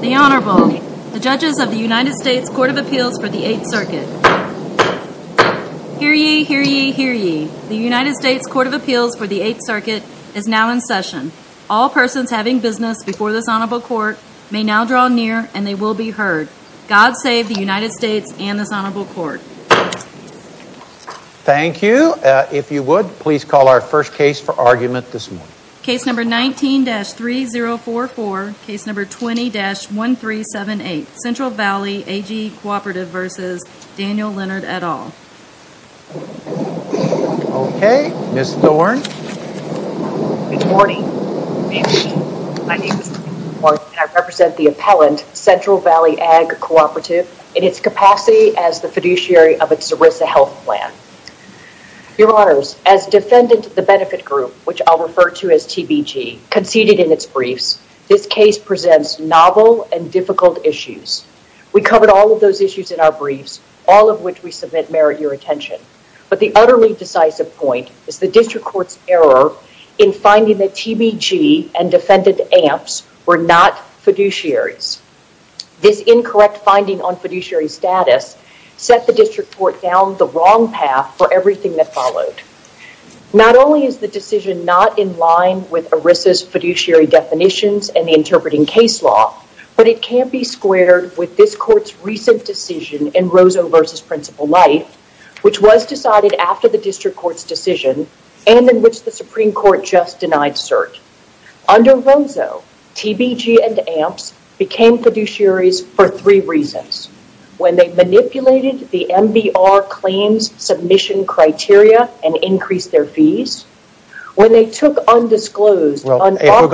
The Honorable, the Judges of the United States Court of Appeals for the 8th Circuit. Hear ye, hear ye, hear ye. The United States Court of Appeals for the 8th Circuit is now in session. All persons having business before this Honorable Court may now draw near and they will be heard. God save the United States and this Honorable Court. Thank you. If you would, please call our first case for argument this morning. Case number 19-3044. Case number 20-1378. Central Valley AG Cooperative v. Daniel Leonard et al. Okay, Ms. Thorne. Good morning. My name is Amy Thorne and I represent the appellant, Central Valley Ag Cooperative, in its capacity as the fiduciary of its ERISA health plan. Your Honors, as defendant of the benefit group, which I'll refer to as TBG, conceded in its briefs, this case presents novel and difficult issues. We covered all of those issues in our briefs, all of which we submit merit your attention. But the utterly decisive point is the district court's error in finding that TBG and defendant Amps were not fiduciaries. This incorrect finding on fiduciary status set the district court down the wrong path for everything that followed. Not only is the decision not in line with ERISA's fiduciary definitions and the interpreting case law, but it can't be squared with this court's recent decision in Rosso v. Principal Light, which was decided after the district court's decision and in which the Supreme Court just denied cert. Under Rosso, TBG and Amps became fiduciaries for three reasons. When they manipulated the MBR claims submission criteria and increased their fees. When they took undisclosed... Well, if we're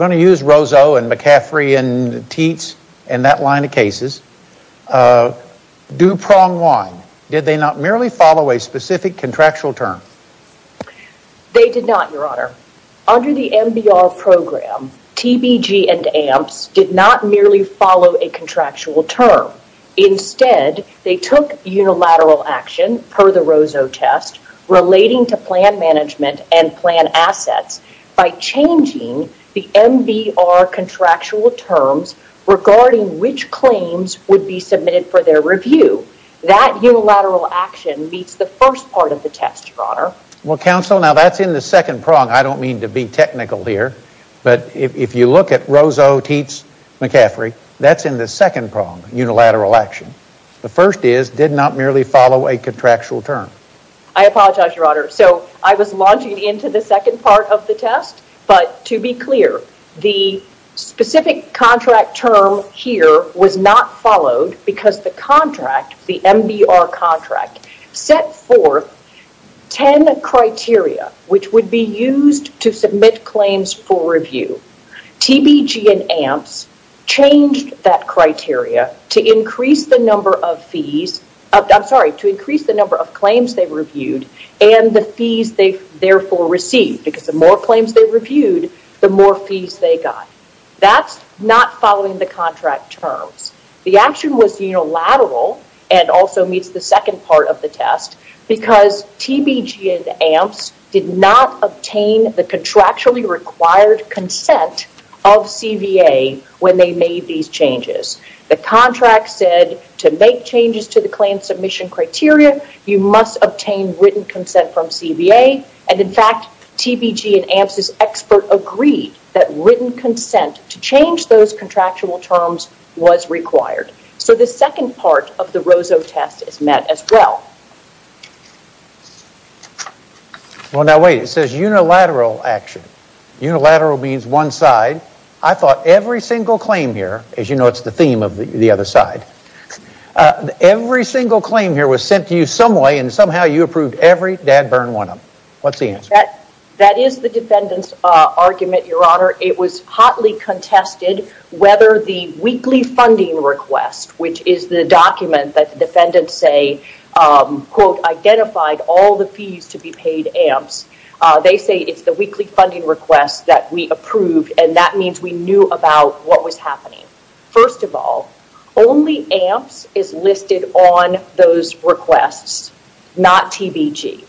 going to use Rosso and McCaffrey and Teets and that line of cases, do prong wine. Did they not merely follow a specific contractual term? They did not, Your Honor. Under the MBR program, TBG and Amps did not merely follow a contractual term. Instead, they took unilateral action per the Rosso test relating to plan management and plan assets by changing the MBR contractual terms regarding which claims would be submitted for their review. That unilateral action meets the first part of the test, Your Honor. Well, Counsel, now that's in the second prong. I don't mean to be technical here, but if you look at Rosso, Teets, McCaffrey, that's in the second prong, unilateral action. The first is, did not merely follow a contractual term. I apologize, Your Honor. So, I was launching into the second part of the test, but to be clear, the specific contract term here was not followed because the contract, the MBR contract, set forth 10 criteria which would be used to submit claims for review. TBG and Amps changed that criteria to increase the number of claims they reviewed and the fees they therefore received because the more claims they reviewed, the more fees they got. That's not following the contract terms. The action was unilateral and also meets the second part of the test because TBG and Amps did not obtain the contractually required consent of CVA when they made these changes. The contract said to make changes to the claim submission criteria, you must obtain written consent from CVA, and in fact, TBG and Amps' expert agreed that written consent to change those contractual terms was required. So, the second part of the Rosso test is met as well. Well, now wait. It says unilateral action. Unilateral means one side. I thought every single claim here, as you know it's the theme of the other side, every single claim here was sent to you some way and somehow you approved every dad-burn one of them. What's the answer? That is the defendant's argument, Your Honor. It was hotly contested whether the weekly funding request, which is the document that the defendants say, quote, identified all the fees to be paid Amps. They say it's the weekly funding request that we approved and that means we knew about what was happening. First of all, only Amps is listed on those requests, not TBG.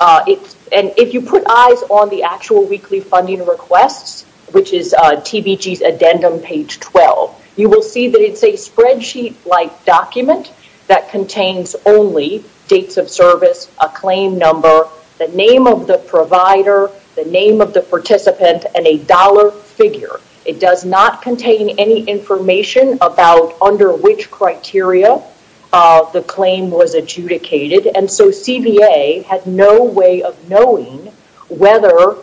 If you put eyes on the actual weekly funding requests, which is TBG's addendum page 12, you will see that it's a spreadsheet-like document that contains only dates of service, a claim number, the name of the provider, the name of the participant and a dollar figure. It does not contain any information about under which criteria the claim was adjudicated and so CBA had no way of knowing whether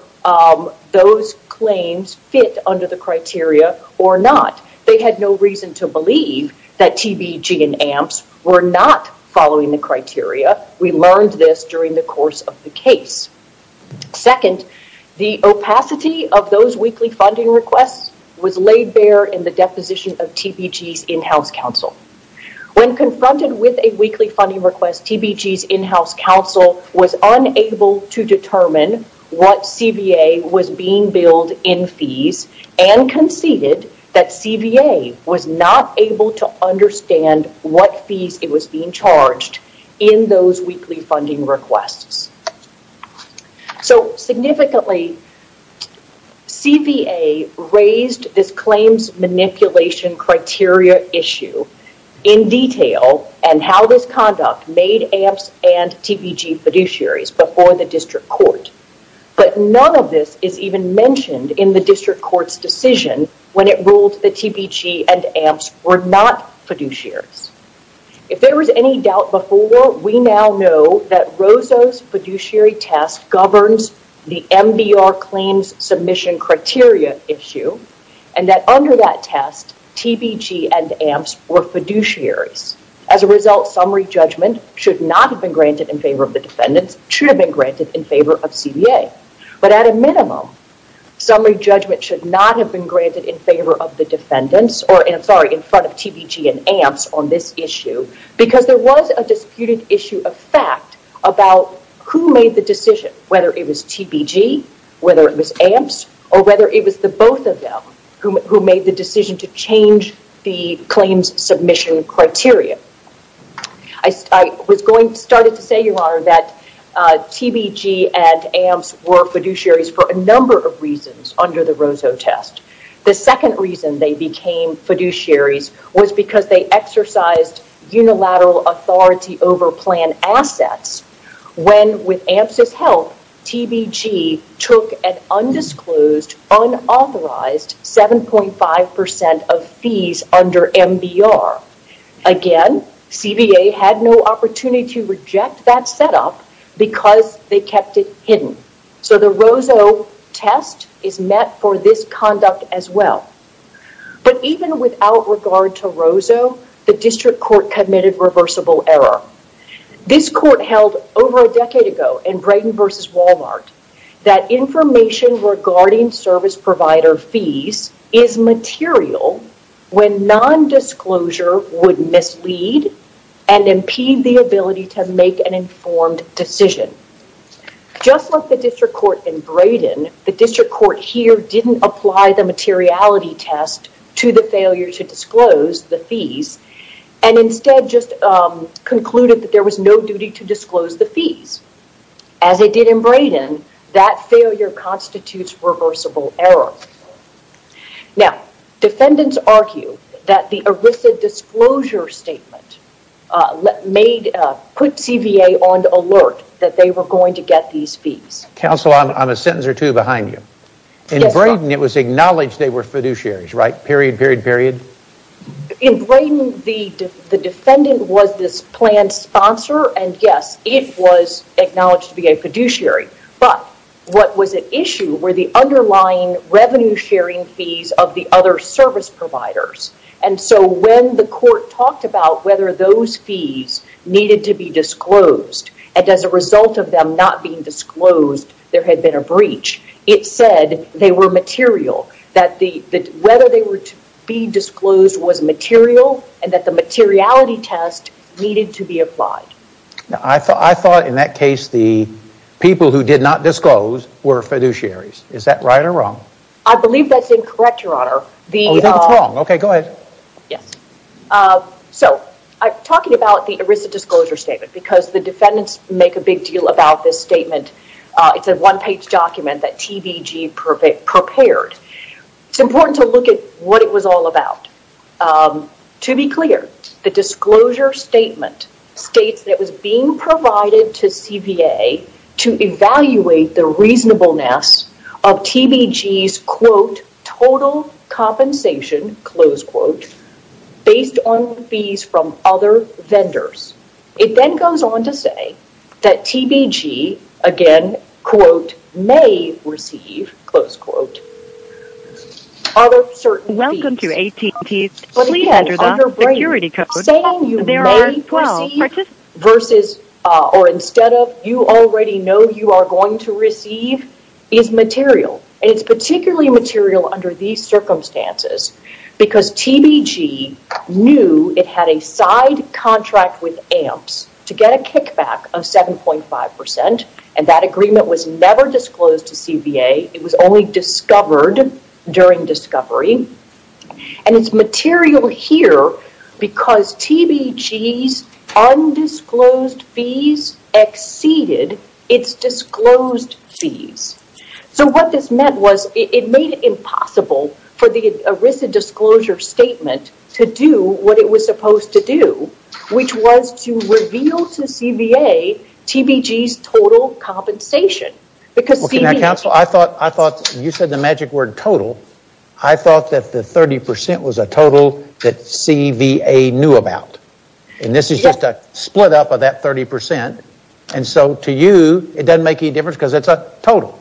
those claims fit under the criteria or not. They had no reason to believe that TBG and Amps were not following the criteria. We learned this during the course of the case. Second, the opacity of those weekly funding requests was laid bare in the deposition of TBG's in-house counsel. When confronted with a weekly funding request, TBG's in-house counsel was unable to determine what CBA was being billed in fees and conceded that CBA was not able to understand what fees it was being charged in those weekly funding requests. Significantly, CBA raised this claims manipulation criteria issue in detail and how this conduct made Amps and TBG fiduciaries before the district court. None of this is even mentioned in the district court's decision when it ruled that TBG and Amps were not fiduciaries. If there was any doubt before, we now know that Rosso's fiduciary test governs the MBR claims submission criteria issue and that under that test, TBG and Amps were fiduciaries. As a result, summary judgment should not have been granted in favor of the defendants, should have been granted in favor of CBA. But at a minimum, summary judgment should not have been granted in favor of the defendants or in front of TBG and Amps on this issue because there was a disputed issue of fact about who made the decision, whether it was TBG, whether it was Amps, or whether it was the both of them who made the decision to change the claims submission criteria. I started to say, Your Honor, that TBG and Amps were fiduciaries for a number of reasons under the Rosso test. The second reason they became fiduciaries was because they exercised unilateral authority over plan assets when with Amps' help, TBG took an undisclosed, unauthorized 7.5% of fees under MBR. Again, CBA had no opportunity to reject that setup because they kept it hidden. So the Rosso test is met for this conduct as well. But even without regard to Rosso, the district court committed reversible error. This court held over a decade ago in Brayden v. Walmart that information regarding service provider fees is material when nondisclosure would mislead and impede the ability to make an informed decision. Just like the district court in Brayden, the district court here didn't apply the materiality test to the failure to disclose the fees and instead just concluded that there was no duty to disclose the fees. As it did in Brayden, that failure constitutes reversible error. Now, defendants argue that the ERISA disclosure statement put CBA on alert that they were going to get these fees. Counsel, I'm a sentence or two behind you. In Brayden, it was acknowledged they were fiduciaries, right? Period, period, period? In Brayden, the defendant was this planned sponsor and yes, it was acknowledged to be a fiduciary. But what was at issue were the underlying revenue sharing fees of the other service providers. And so when the court talked about whether those fees needed to be disclosed and as a result of them not being disclosed, there had been a breach, it said they were material. That whether they were to be disclosed was material and that the materiality test needed to be applied. I thought in that case the people who did not disclose were fiduciaries. Is that right or wrong? I believe that's incorrect, Your Honor. I think it's wrong. Okay, go ahead. Yes. So, I'm talking about the ERISA disclosure statement because the defendants make a big deal about this statement. It's a one-page document that TBG prepared. It's important to look at what it was all about. To be clear, the disclosure statement states that it was being provided to CBA to evaluate the reasonableness of TBG's, quote, total compensation, close quote, based on fees from other vendors. It then goes on to say that TBG, again, quote, may receive, close quote, other certain fees. But again, underbrain, saying you may receive versus or instead of you already know you are going to receive is material and it's particularly material under these circumstances because TBG knew it had a side contract with AMPS to get a kickback of 7.5% and that agreement was never disclosed to CBA. It was only discovered during discovery. It's material here because TBG's undisclosed fees exceeded its disclosed fees. What this meant was it made it impossible for the ERISA disclosure statement to do what it was supposed to do, which was to reveal to CBA TBG's total compensation. I thought you said the magic word total. I thought that the 30% was a total that CBA knew about. And this is just a split up of that 30% and so to you it doesn't make any difference because it's a total.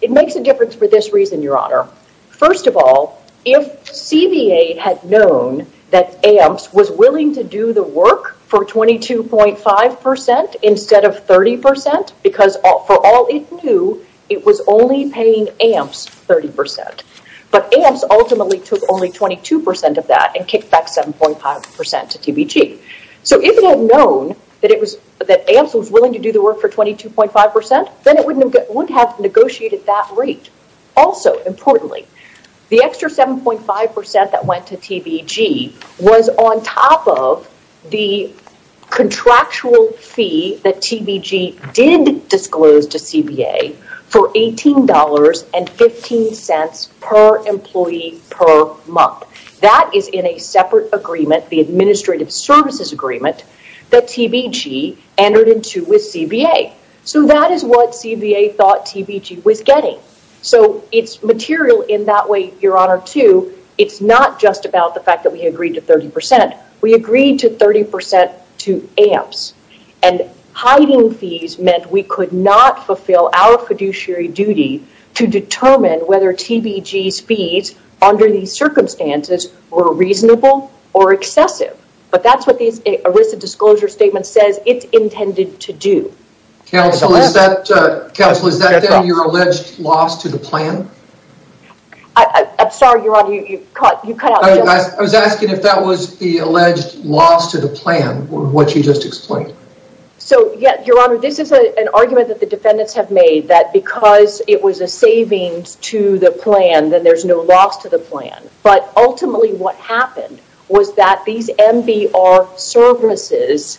It makes a difference for this reason, Your Honor. First of all, if CBA had known that AMPS was willing to do the work for 22.5% instead of 30% because for all it knew it was only paying AMPS 30%. But AMPS ultimately took only 22% of that and kicked back 7.5% to TBG. So if it had known that AMPS was willing to do the work for 22.5% then it wouldn't have negotiated that rate. Also, importantly, the extra 7.5% that went to TBG was on top of the contractual fee that TBG did disclose to CBA for $18.15 per employee per month. That is in a separate agreement, the Administrative Services Agreement, that TBG entered into with CBA. So that is what CBA thought TBG was getting. So it's material in that way, Your Honor, too. It's not just about the fact that we agreed to 30%. We agreed to 30% to AMPS. And hiding fees meant we could not fulfill our fiduciary duty to determine whether TBG's fees under these circumstances were reasonable or excessive. But that's what the ERISA disclosure statement says it intended to do. Counsel, is that then your alleged loss to the plan? I'm sorry, Your Honor, you cut out. I was asking if that was the alleged loss to the plan, what you just explained. So, Your Honor, this is an argument that the defendants have made that because it was a savings to the plan then there's no loss to the plan. But ultimately what happened was that these MBR services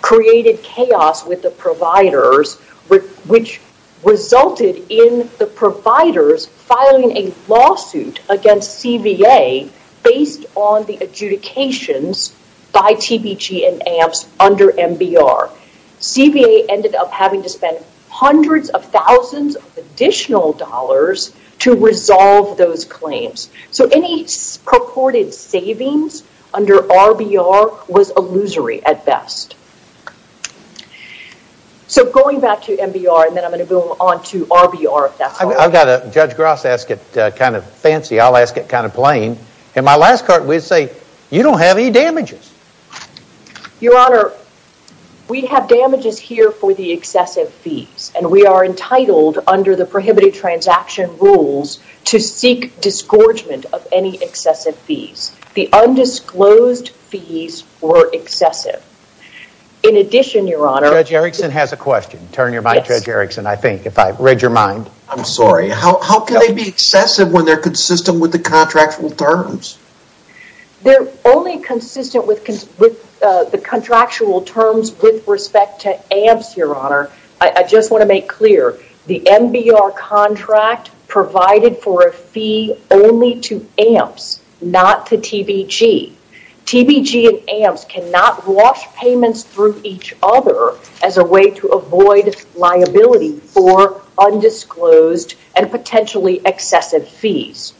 created chaos with the providers which resulted in the providers filing a lawsuit against CBA based on the adjudications by TBG and AMPS under MBR. CBA ended up having to spend hundreds of thousands of additional dollars to resolve those claims. So any purported savings under RBR was illusory at best. So going back to MBR and then I'm going to go on to RBR. Judge Gross asked it kind of fancy, I'll ask it kind of plain. In my last court we'd say, you don't have any damages. Your Honor, we have damages here for the excessive fees. And we are entitled under the prohibited transaction rules to seek disgorgement of any excessive fees. The undisclosed fees were excessive. In addition, Your Honor... Judge Erickson has a question. Turn your mind, Judge Erickson, I think, if I read your mind. I'm sorry, how can they be excessive when they're consistent with the contractual terms? They're only consistent with the contractual terms with respect to AMPS, Your Honor. I just want to make clear, the MBR contract provided for a fee only to AMPS, not to TBG. TBG and AMPS cannot wash payments through each other as a way to avoid liability for undisclosed and potentially excessive fees.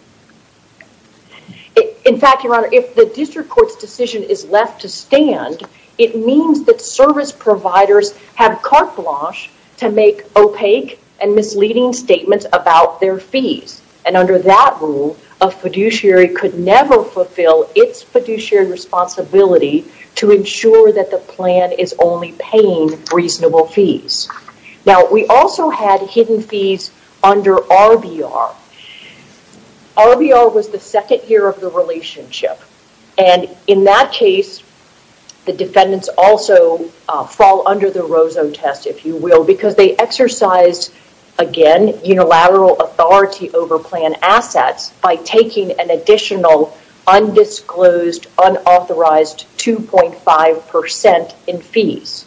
In fact, Your Honor, if the district court's decision is left to stand, it means that service providers have carte blanche to make opaque and misleading statements about their fees. And under that rule, a fiduciary could never fulfill its fiduciary responsibility to ensure that the plan is only paying reasonable fees. Now, we also had hidden fees under RBR. RBR was the second year of the relationship. And in that case, the defendants also fall under the Rozo test, if you will, because they exercised, again, unilateral authority over plan assets by taking an additional undisclosed, unauthorized 2.5% in fees.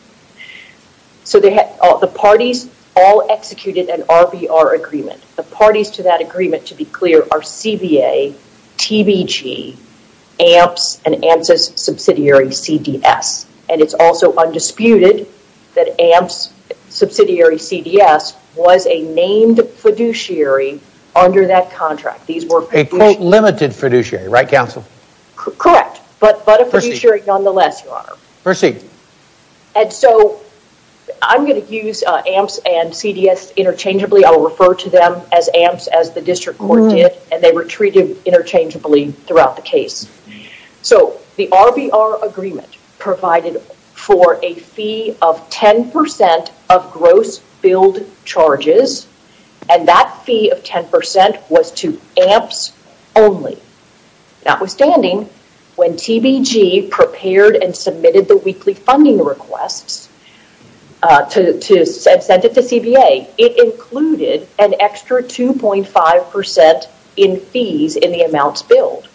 So the parties all executed an RBR agreement. The parties to that agreement, to be clear, are CBA, TBG, AMPS, and AMPS' subsidiary, CDS. And it's also undisputed that AMPS' subsidiary, CDS, was a named fiduciary under that contract. A quote-limited fiduciary, right, Counsel? Correct, but a fiduciary nonetheless, Your Honor. Proceed. And so I'm going to use AMPS and CDS interchangeably. I will refer to them as AMPS, as the district court did, and they were treated interchangeably throughout the case. So the RBR agreement provided for a fee of 10% of gross billed charges, and that fee of 10% was to AMPS only. Notwithstanding, when TBG prepared and submitted the weekly funding requests and sent it to CBA, it included an extra 2.5% in fees in the amounts billed.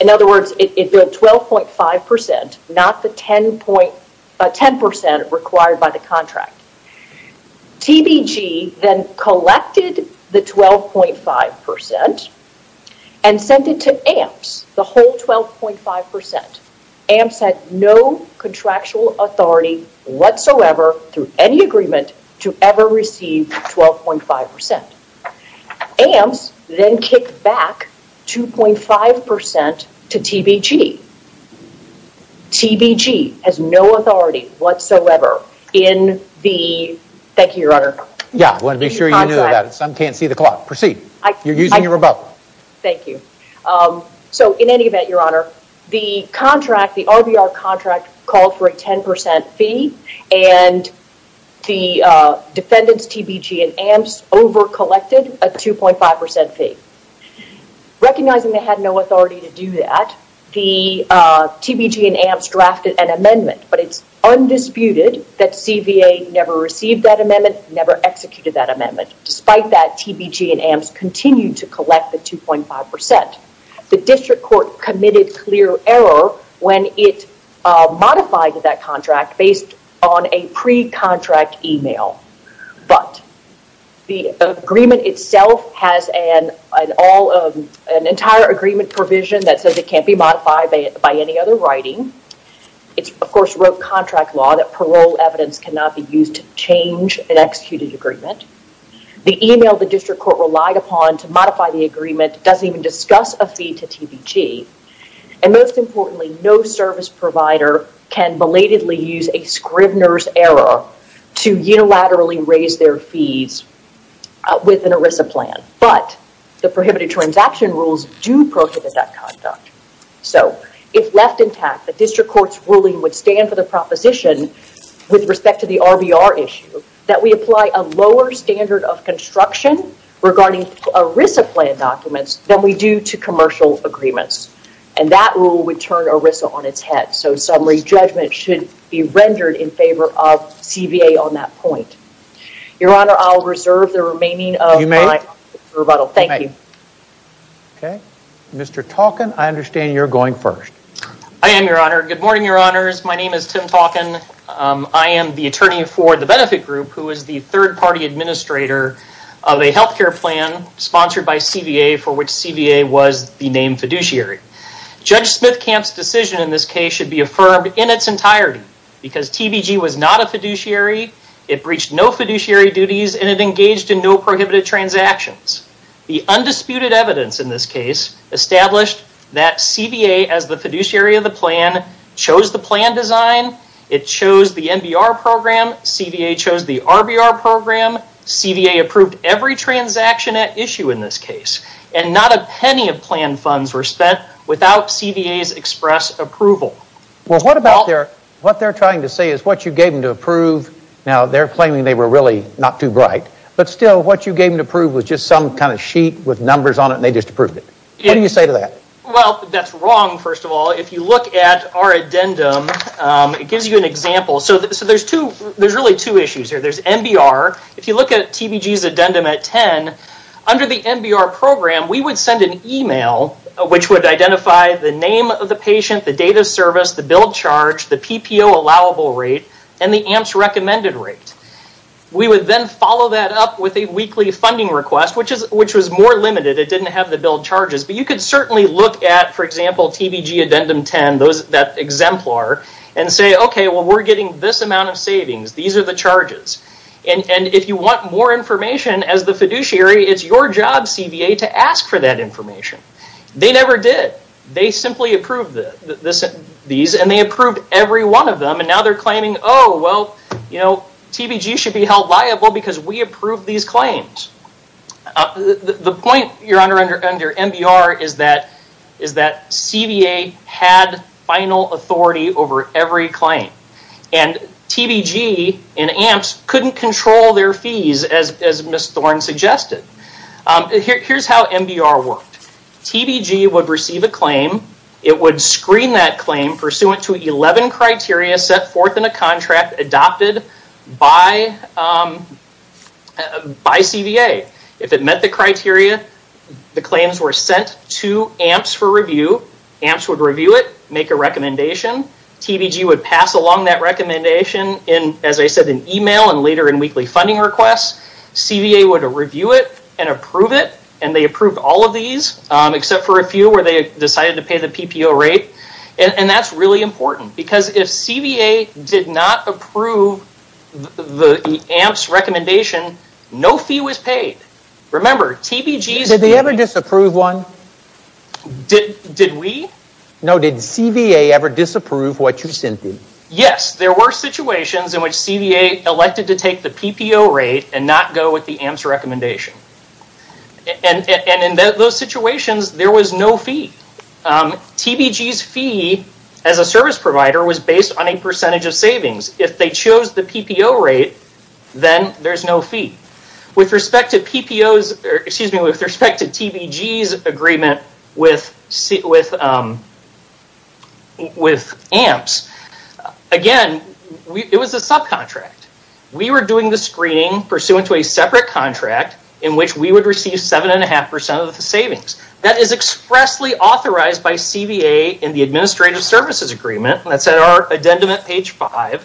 In other words, it billed 12.5%, not the 10% required by the contract. TBG then collected the 12.5% and sent it to AMPS, the whole 12.5%. AMPS had no contractual authority whatsoever through any agreement to ever receive 12.5%. AMPS then kicked back 2.5% to TBG. TBG has no authority whatsoever in the—thank you, Your Honor. Yeah, I want to make sure you know that. Some can't see the clock. Proceed. You're using your rebuttal. Thank you. So in any event, Your Honor, the contract, the RBR contract, called for a 10% fee, and the defendants, TBG and AMPS, overcollected a 2.5% fee. Recognizing they had no authority to do that, the TBG and AMPS drafted an amendment, but it's undisputed that CBA never received that amendment, never executed that amendment. Despite that, TBG and AMPS continued to collect the 2.5%. The district court committed clear error when it modified that contract based on a pre-contract email. But the agreement itself has an entire agreement provision that says it can't be modified by any other writing. It, of course, wrote contract law that parole evidence cannot be used to change an executed agreement. The email the district court relied upon to modify the agreement doesn't even discuss a fee to TBG. Most importantly, no service provider can belatedly use a Scrivner's error to unilaterally raise their fees with an ERISA plan. But the prohibited transaction rules do prohibit that conduct. So, if left intact, the district court's ruling would stand for the proposition with respect to the RBR issue that we apply a lower standard of construction regarding ERISA plan documents than we do to commercial agreements. And that rule would turn ERISA on its head. So, summary judgment should be rendered in favor of CBA on that point. Your Honor, I'll reserve the remaining of my rebuttal. Thank you. Okay. Mr. Talkin, I understand you're going first. I am, Your Honor. Good morning, Your Honors. My name is Tim Talkin. I am the attorney for the benefit group who is the third-party administrator of a health care plan sponsored by CBA for which CBA was the named fiduciary. Judge Smithkamp's decision in this case should be affirmed in its entirety because TBG was not a fiduciary. It breached no fiduciary duties, and it engaged in no prohibited transactions. The undisputed evidence in this case established that CBA, as the fiduciary of the plan, chose the plan design. It chose the NBR program. CBA chose the RBR program. CBA approved every transaction at issue in this case. And not a penny of plan funds were spent without CBA's express approval. Well, what they're trying to say is what you gave them to approve. Now, they're claiming they were really not too bright. But still, what you gave them to approve was just some kind of sheet with numbers on it, and they just approved it. What do you say to that? Well, that's wrong, first of all. If you look at our addendum, it gives you an example. So there's really two issues here. There's NBR. If you look at TBG's addendum at 10, under the NBR program, we would send an email which would identify the name of the patient, the date of service, the bill charge, the PPO allowable rate, and the AMPS recommended rate. We would then follow that up with a weekly funding request, which was more limited. It didn't have the bill charges. But you could certainly look at, for example, TBG addendum 10, that exemplar, and say, okay, well, we're getting this amount of savings. These are the charges. And if you want more information as the fiduciary, it's your job, CBA, to ask for that information. They never did. They simply approved these, and they approved every one of them. And now they're claiming, oh, well, TBG should be held liable because we approved these claims. The point, Your Honor, under NBR is that CBA had final authority over every claim. And TBG and AMPS couldn't control their fees, as Ms. Thorne suggested. Here's how NBR worked. TBG would receive a claim. It would screen that claim pursuant to 11 criteria set forth in a contract adopted by CBA. If it met the criteria, the claims were sent to AMPS for review. AMPS would review it, make a recommendation. TBG would pass along that recommendation in, as I said, an email and later in weekly funding requests. CBA would review it and approve it. And they approved all of these, except for a few where they decided to pay the PPO rate. And that's really important. Because if CBA did not approve the AMPS recommendation, no fee was paid. Remember, TBG's... Did they ever disapprove one? Did we? No, did CBA ever disapprove what you sent them? Yes, there were situations in which CBA elected to take the PPO rate and not go with the AMPS recommendation. And in those situations, there was no fee. TBG's fee as a service provider was based on a percentage of savings. If they chose the PPO rate, then there's no fee. With respect to TBG's agreement with AMPS, again, it was a subcontract. We were doing the screening pursuant to a separate contract in which we would receive 7.5% of the savings. That is expressly authorized by CBA in the Administrative Services Agreement. And that's at our addendum at page 5,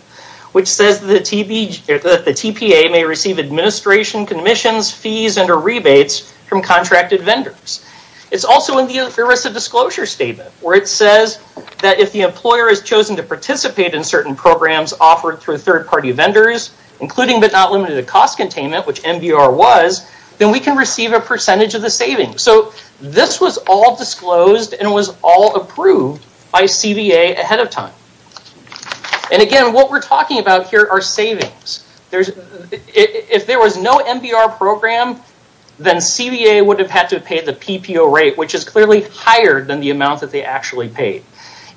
which says that the TPA may receive administration commissions, fees, and or rebates from contracted vendors. It's also in the ERISA disclosure statement where it says that if the employer has chosen to participate in certain programs offered through third-party vendors, including but not limited to cost containment, which MBR was, then we can receive a percentage of the savings. So this was all disclosed and was all approved by CBA ahead of time. And again, what we're talking about here are savings. If there was no MBR program, then CBA would have had to pay the PPO rate, which is clearly higher than the amount that they actually paid.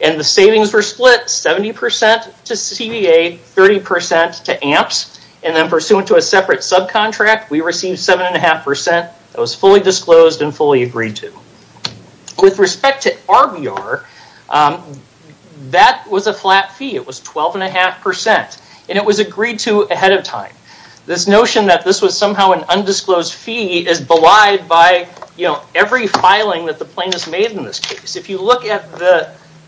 And the savings were split 70% to CBA, 30% to AMPS. And then pursuant to a separate subcontract, we received 7.5%. It was fully disclosed and fully agreed to. With respect to RBR, that was a flat fee. It was 12.5%. And it was agreed to ahead of time. This notion that this was somehow an undisclosed fee is belied by every filing that the plaintiffs made in this case. If you look at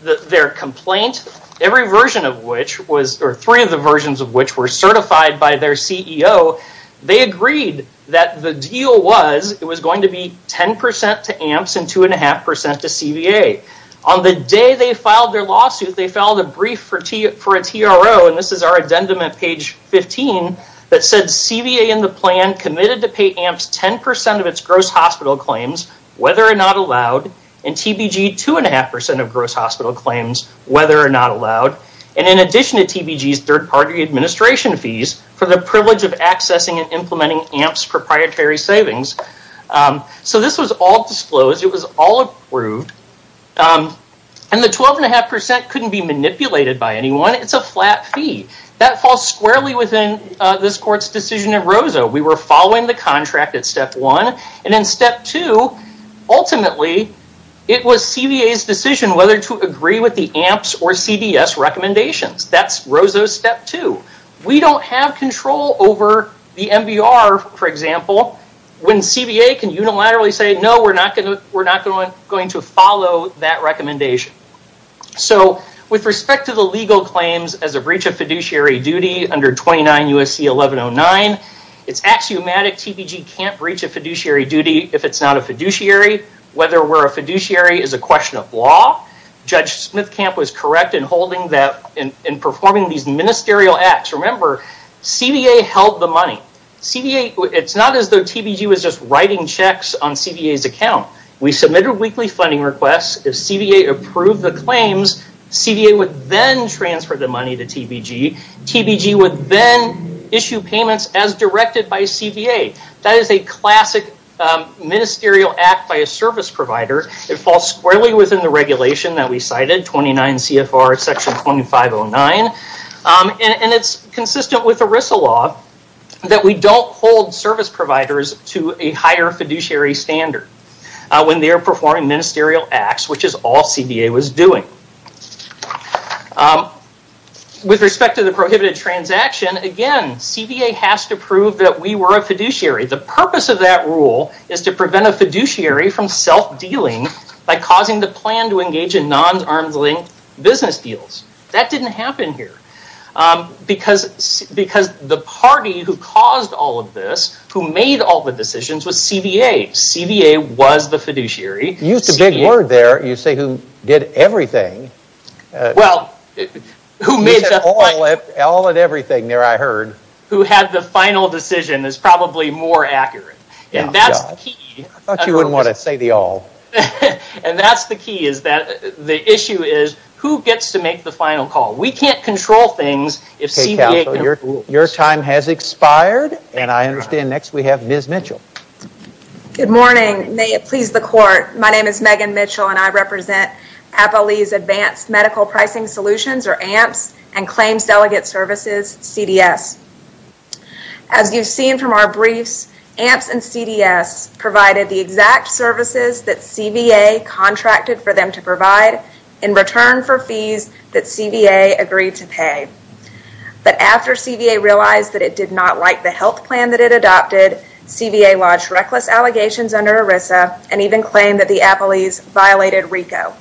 their complaint, three of the versions of which were certified by their CEO, they agreed that the deal was it was going to be 10% to AMPS and 2.5% to CBA. On the day they filed their lawsuit, they filed a brief for a TRO, and this is our addendum at page 15, that said, CBA in the plan committed to pay AMPS 10% of its gross hospital claims, whether or not allowed, and TBG 2.5% of gross hospital claims, whether or not allowed. And in addition to TBG's third-party administration fees, for the privilege of accessing and implementing AMPS proprietary savings. So this was all disclosed. It was all approved. And the 12.5% couldn't be manipulated by anyone. It's a flat fee. That falls squarely within this court's decision at ROSA. We were following the contract at step one. And in step two, ultimately, it was CBA's decision whether to agree with the AMPS or CDS recommendations. That's ROSA step two. We don't have control over the MBR, for example, when CBA can unilaterally say, no, we're not going to follow that recommendation. So with respect to the legal claims as a breach of fiduciary duty under 29 U.S.C. 1109, it's axiomatic TBG can't breach a fiduciary duty if it's not a fiduciary, whether we're a fiduciary is a question of law. Judge Smithcamp was correct in performing these ministerial acts. Remember, CBA held the money. It's not as though TBG was just writing checks on CBA's account. We submitted weekly funding requests. If CBA approved the claims, CBA would then transfer the money to TBG. TBG would then issue payments as directed by CBA. That is a classic ministerial act by a service provider. It falls squarely within the regulation that we cited, 29 CFR section 2509. And it's consistent with ERISA law that we don't hold service providers to a higher fiduciary standard when they're performing ministerial acts, which is all CBA was doing. With respect to the prohibited transaction, again, CBA has to prove that we were a fiduciary. The purpose of that rule is to prevent a fiduciary from self-dealing by causing the plan to engage in non-arms-linked business deals. That didn't happen here. Because the party who caused all of this, who made all the decisions, was CBA. CBA was the fiduciary. You used a big word there. You say who did everything. Well, who made the final decision. You said all and everything there, I heard. Who had the final decision is probably more accurate. And that's the key. I thought you wouldn't want to say the all. And that's the key. The issue is who gets to make the final call. We can't control things if CBA can't control us. Your time has expired. And I understand next we have Ms. Mitchell. Good morning. May it please the court, my name is Megan Mitchell, and I represent APALE's Advanced Medical Pricing Solutions, or AMPS, and Claims Delegate Services, CDS. As you've seen from our briefs, AMPS and CDS provided the exact services that CBA contracted for them to provide in return for fees that CBA agreed to pay. But after CBA realized that it did not like the health plan that it adopted, CBA lodged reckless allegations under ERISA and even claimed that the APALE's violated RICO.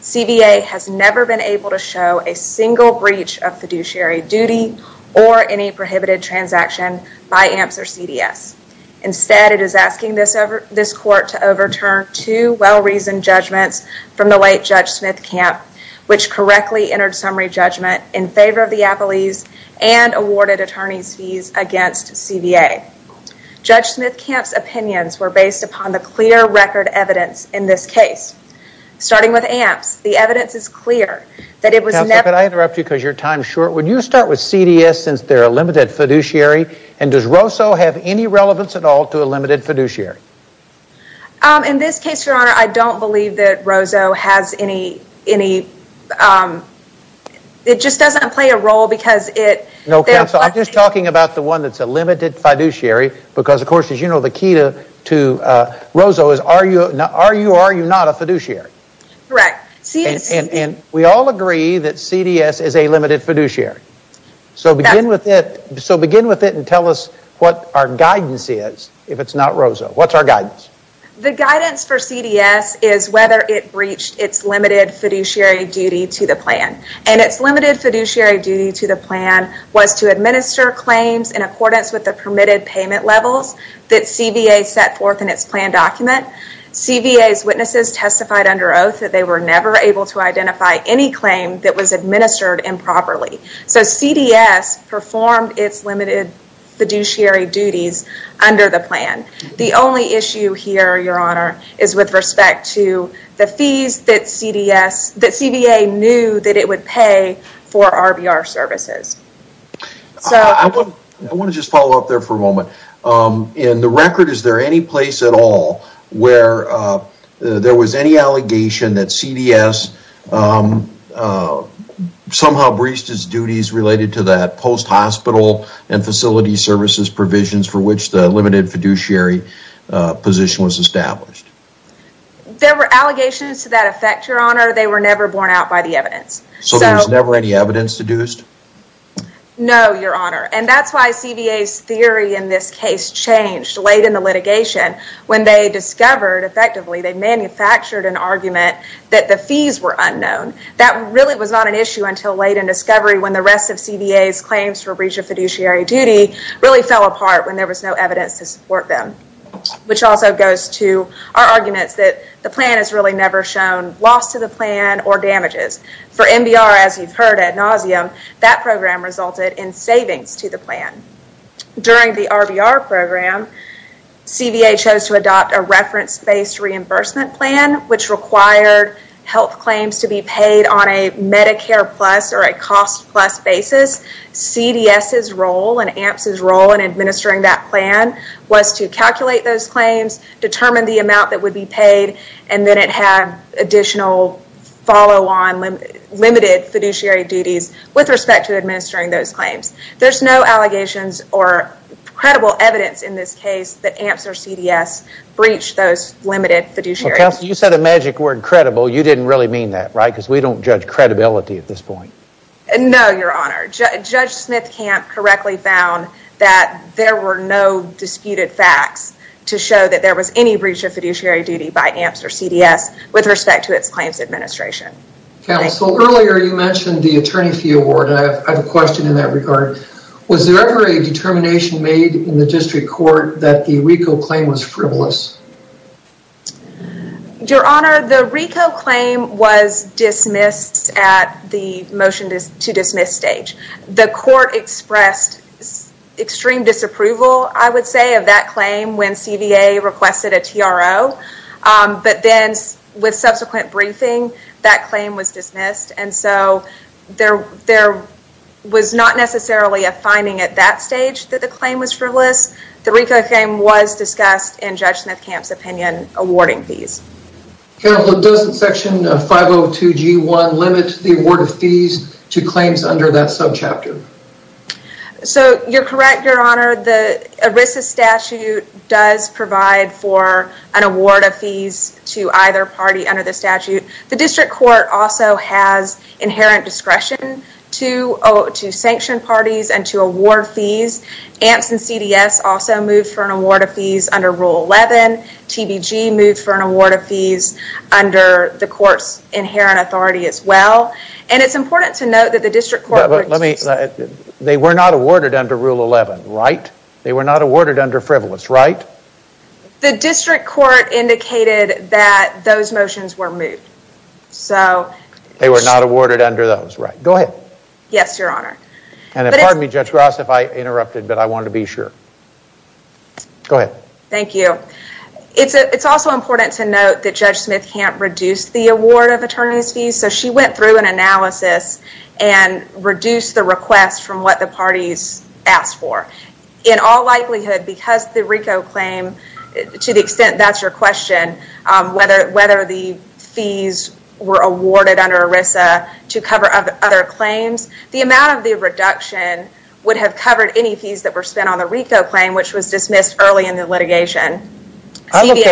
CBA has never been able to show a single breach of fiduciary duty or any prohibited transaction by AMPS or CDS. Instead, it is asking this court to overturn two well-reasoned judgments from the late Judge Smith-Camp, which correctly entered summary judgment in favor of the APALE's and awarded attorney's fees against CBA. Judge Smith-Camp's opinions were based upon the clear record evidence in this case. Starting with AMPS, the evidence is clear that it was never... Counselor, could I interrupt you because your time is short? Would you start with CDS since they're a limited fiduciary, and does ROSO have any relevance at all to a limited fiduciary? In this case, Your Honor, I don't believe that ROSO has any... It just doesn't play a role because it... No, Counselor, I'm just talking about the one that's a limited fiduciary because, of course, as you know, the key to ROSO is are you or are you not a fiduciary? Correct. And we all agree that CDS is a limited fiduciary. So begin with it and tell us what our guidance is if it's not ROSO. What's our guidance? The guidance for CDS is whether it breached its limited fiduciary duty to the plan. And its limited fiduciary duty to the plan was to administer claims in accordance with the permitted payment levels that CBA set forth in its plan document. CBA's witnesses testified under oath that they were never able to identify any claim that was administered improperly. So CDS performed its limited fiduciary duties under the plan. The only issue here, Your Honor, is with respect to the fees that CBA knew that it would pay for RBR services. I want to just follow up there for a moment. In the record, is there any place at all where there was any allegation that CDS somehow breached its duties related to that post-hospital and facility services provisions for which the limited fiduciary position was established? There were allegations to that effect, Your Honor. They were never borne out by the evidence. So there was never any evidence deduced? No, Your Honor. And that's why CBA's theory in this case changed late in the litigation when they discovered, effectively, they manufactured an argument that the fees were unknown. That really was not an issue until late in discovery when the rest of CBA's claims for breach of fiduciary duty really fell apart when there was no evidence to support them, which also goes to our arguments that the plan has really never shown loss to the plan or damages. For MBR, as you've heard ad nauseum, that program resulted in savings to the plan. During the RBR program, CBA chose to adopt a reference-based reimbursement plan which required health claims to be paid on a Medicare Plus or a Cost Plus basis. CDS's role and AMPS's role in administering that plan was to calculate those claims, determine the amount that would be paid, and then it had additional follow-on limited fiduciary duties with respect to administering those claims. There's no allegations or credible evidence in this case that AMPS or CDS breached those limited fiduciary duties. Counsel, you said a magic word, credible. You didn't really mean that, right? Because we don't judge credibility at this point. No, Your Honor. Judge Smith-Camp correctly found that there were no disputed facts to show that there was any breach of fiduciary duty by AMPS or CDS with respect to its claims administration. Counsel, earlier you mentioned the attorney fee award. I have a question in that regard. Was there ever a determination made in the district court that the RICO claim was frivolous? Your Honor, the RICO claim was dismissed at the motion to dismiss stage. The court expressed extreme disapproval, I would say, of that claim when CVA requested a TRO, but then with subsequent briefing, that claim was dismissed, and so there was not necessarily a finding at that stage that the claim was frivolous. The RICO claim was discussed in Judge Smith-Camp's opinion awarding fees. Counsel, does section 502G1 limit the award of fees to claims under that subchapter? So, you're correct, Your Honor. The ERISA statute does provide for an award of fees to either party under the statute. The district court also has inherent discretion to sanction parties and to award fees. AMPS and CDS also moved for an award of fees under Rule 11. TBG moved for an award of fees under the court's inherent authority as well. And it's important to note that the district court— But let me—they were not awarded under Rule 11, right? They were not awarded under frivolous, right? The district court indicated that those motions were moved. So— They were not awarded under those, right? Go ahead. Yes, Your Honor. Pardon me, Judge Ross, if I interrupted, but I wanted to be sure. Go ahead. Thank you. It's also important to note that Judge Smith-Camp reduced the award of attorneys' fees. So, she went through an analysis and reduced the request from what the parties asked for. In all likelihood, because the RICO claim, to the extent that's your question, whether the fees were awarded under ERISA to cover other claims, the amount of the reduction would have covered any fees that were spent on the RICO claim, which was dismissed early in the litigation. I looked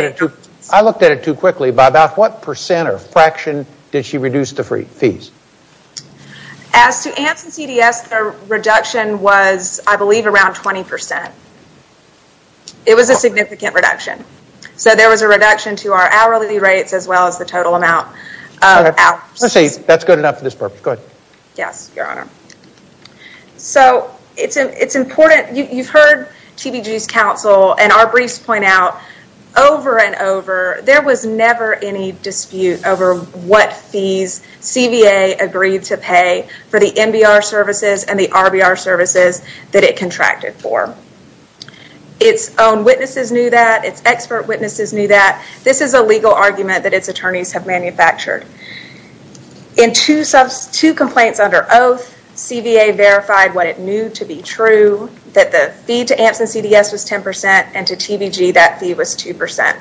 at it too quickly. By about what percent or fraction did she reduce the fees? As to ANTS and CDS, the reduction was, I believe, around 20%. It was a significant reduction. So, there was a reduction to our hourly rates as well as the total amount of hours. Let's see. That's good enough for this purpose. Go ahead. Yes, Your Honor. So, it's important. You've heard TBG's counsel and our briefs point out, over and over, there was never any dispute over what fees CVA agreed to pay for the MBR services and the RBR services that it contracted for. Its own witnesses knew that. Its expert witnesses knew that. This is a legal argument that its attorneys have manufactured. In two complaints under oath, CVA verified what it knew to be true, that the fee to ANTS and CDS was 10% and to TBG that fee was 2%.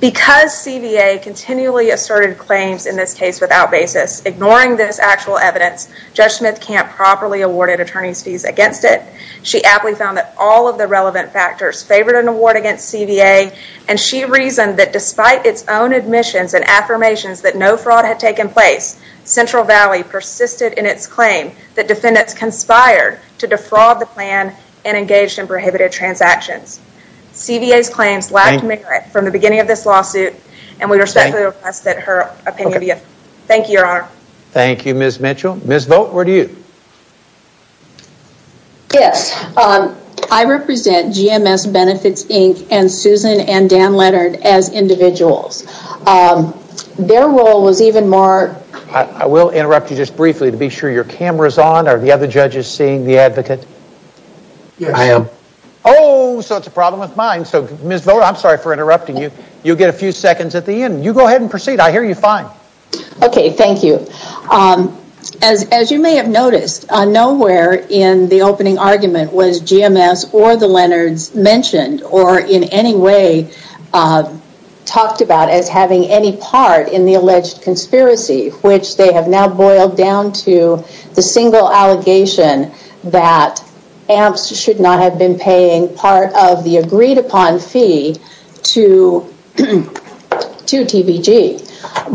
Because CVA continually asserted claims in this case without basis, ignoring this actual evidence, Judge Smith-Camp properly awarded attorney's fees against it. She aptly found that all of the relevant factors favored an award against CVA and she reasoned that despite its own admissions and affirmations that no fraud had taken place, Central Valley persisted in its claim that defendants conspired to defraud the plan and engaged in prohibited transactions. CVA's claims lacked merit from the beginning of this lawsuit and we respectfully request that her opinion be affirmed. Thank you, Your Honor. Thank you, Ms. Mitchell. Ms. Vogt, over to you. Yes, I represent GMS Benefits, Inc. and Susan and Dan Leonard as individuals. Their role was even more... I will interrupt you just briefly to be sure your camera is on. Are the other judges seeing the advocate? Yes. I am. Oh, so it's a problem with mine. Ms. Vogt, I'm sorry for interrupting you. You'll get a few seconds at the end. You go ahead and proceed. I hear you fine. Okay, thank you. As you may have noticed, nowhere in the opening argument was GMS or the Leonards mentioned or in any way talked about as having any part in the alleged conspiracy, which they have now boiled down to the single allegation that AMPS should not have been paying part of the agreed upon fee to TBG.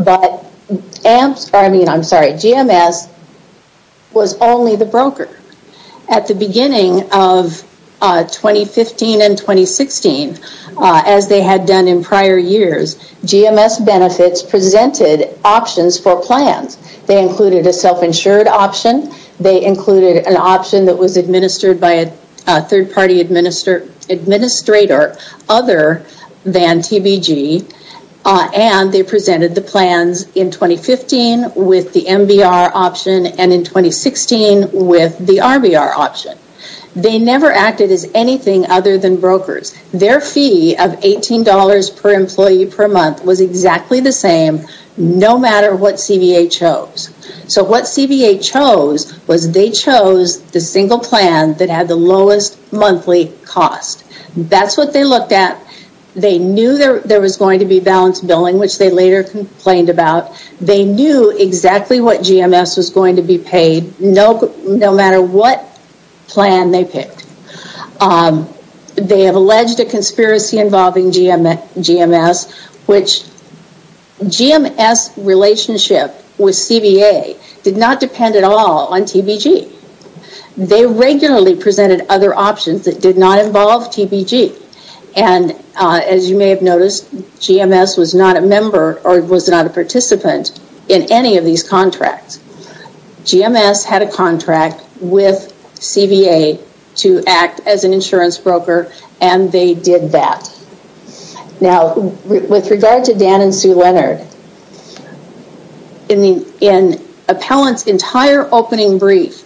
But GMS was only the broker. At the beginning of 2015 and 2016, as they had done in prior years, GMS Benefits presented options for plans. They included a self-insured option. They included an option that was administered by a third-party administrator other than TBG. And they presented the plans in 2015 with the MBR option and in 2016 with the RBR option. They never acted as anything other than brokers. Their fee of $18 per employee per month was exactly the same no matter what CBA chose. So what CBA chose was they chose the single plan that had the lowest monthly cost. That's what they looked at. They knew there was going to be balanced billing, which they later complained about. They knew exactly what GMS was going to be paid no matter what plan they picked. They have alleged a conspiracy involving GMS, which GMS relationship with CBA did not depend at all on TBG. They regularly presented other options that did not involve TBG. As you may have noticed, GMS was not a member or was not a participant in any of these contracts. GMS had a contract with CBA to act as an insurance broker, and they did that. Now, with regard to Dan and Sue Leonard, in Appellant's entire opening brief,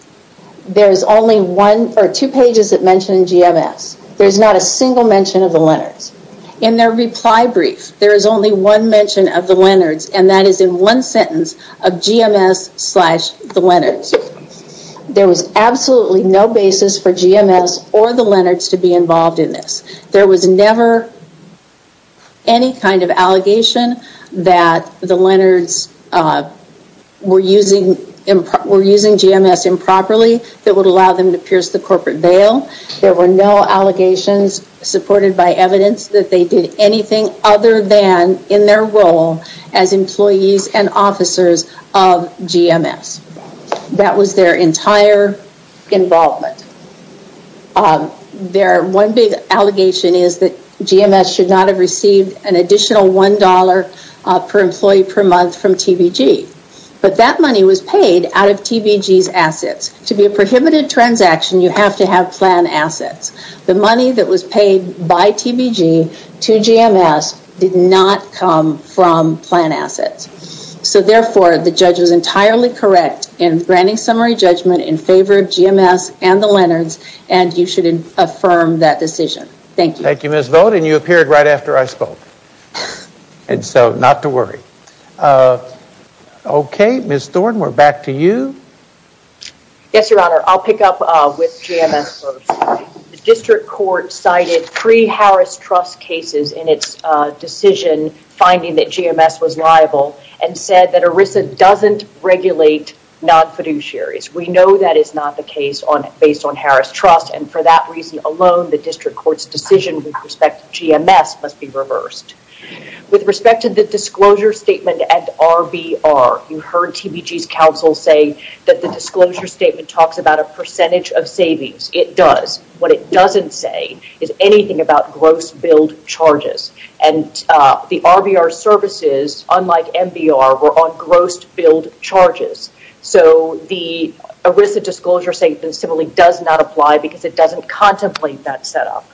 there are two pages that mention GMS. There's not a single mention of the Leonards. In their reply brief, there is only one mention of the Leonards, and that is in one sentence of GMS slash the Leonards. There was absolutely no basis for GMS or the Leonards to be involved in this. There was never any kind of allegation that the Leonards were using GMS improperly that would allow them to pierce the corporate veil. There were no allegations supported by evidence that they did anything other than in their role as employees and officers of GMS. That was their entire involvement. Their one big allegation is that GMS should not have received an additional $1 per employee per month from TBG, but that money was paid out of TBG's assets. To be a prohibited transaction, you have to have plan assets. The money that was paid by TBG to GMS did not come from plan assets. So therefore, the judge was entirely correct in granting summary judgment in favor of GMS and the Leonards, and you should affirm that decision. Thank you. Thank you, Ms. Vogt, and you appeared right after I spoke, and so not to worry. Okay, Ms. Thornton, we're back to you. Yes, Your Honor, I'll pick up with GMS first. The district court cited three Harris Trust cases in its decision finding that GMS was liable and said that ERISA doesn't regulate non-fiduciaries. We know that is not the case based on Harris Trust, and for that reason alone, the district court's decision with respect to GMS must be reversed. With respect to the disclosure statement at RBR, you heard TBG's counsel say that the disclosure statement talks about a percentage of savings. It does. What it doesn't say is anything about gross billed charges, and the RBR services, unlike MBR, were on gross billed charges. So the ERISA disclosure statement similarly does not apply because it doesn't contemplate that setup.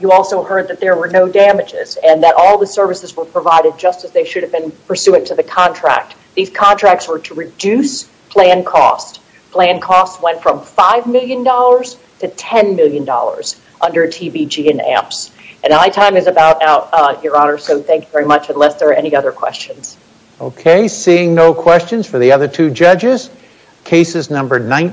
You also heard that there were no damages and that all the services were provided just as they should have been pursuant to the contract. These contracts were to reduce plan costs. Plan costs went from $5 million to $10 million under TBG and AMPS. And my time is about out, Your Honor, so thank you very much unless there are any other questions. Okay, seeing no questions for the other two judges, cases number 19.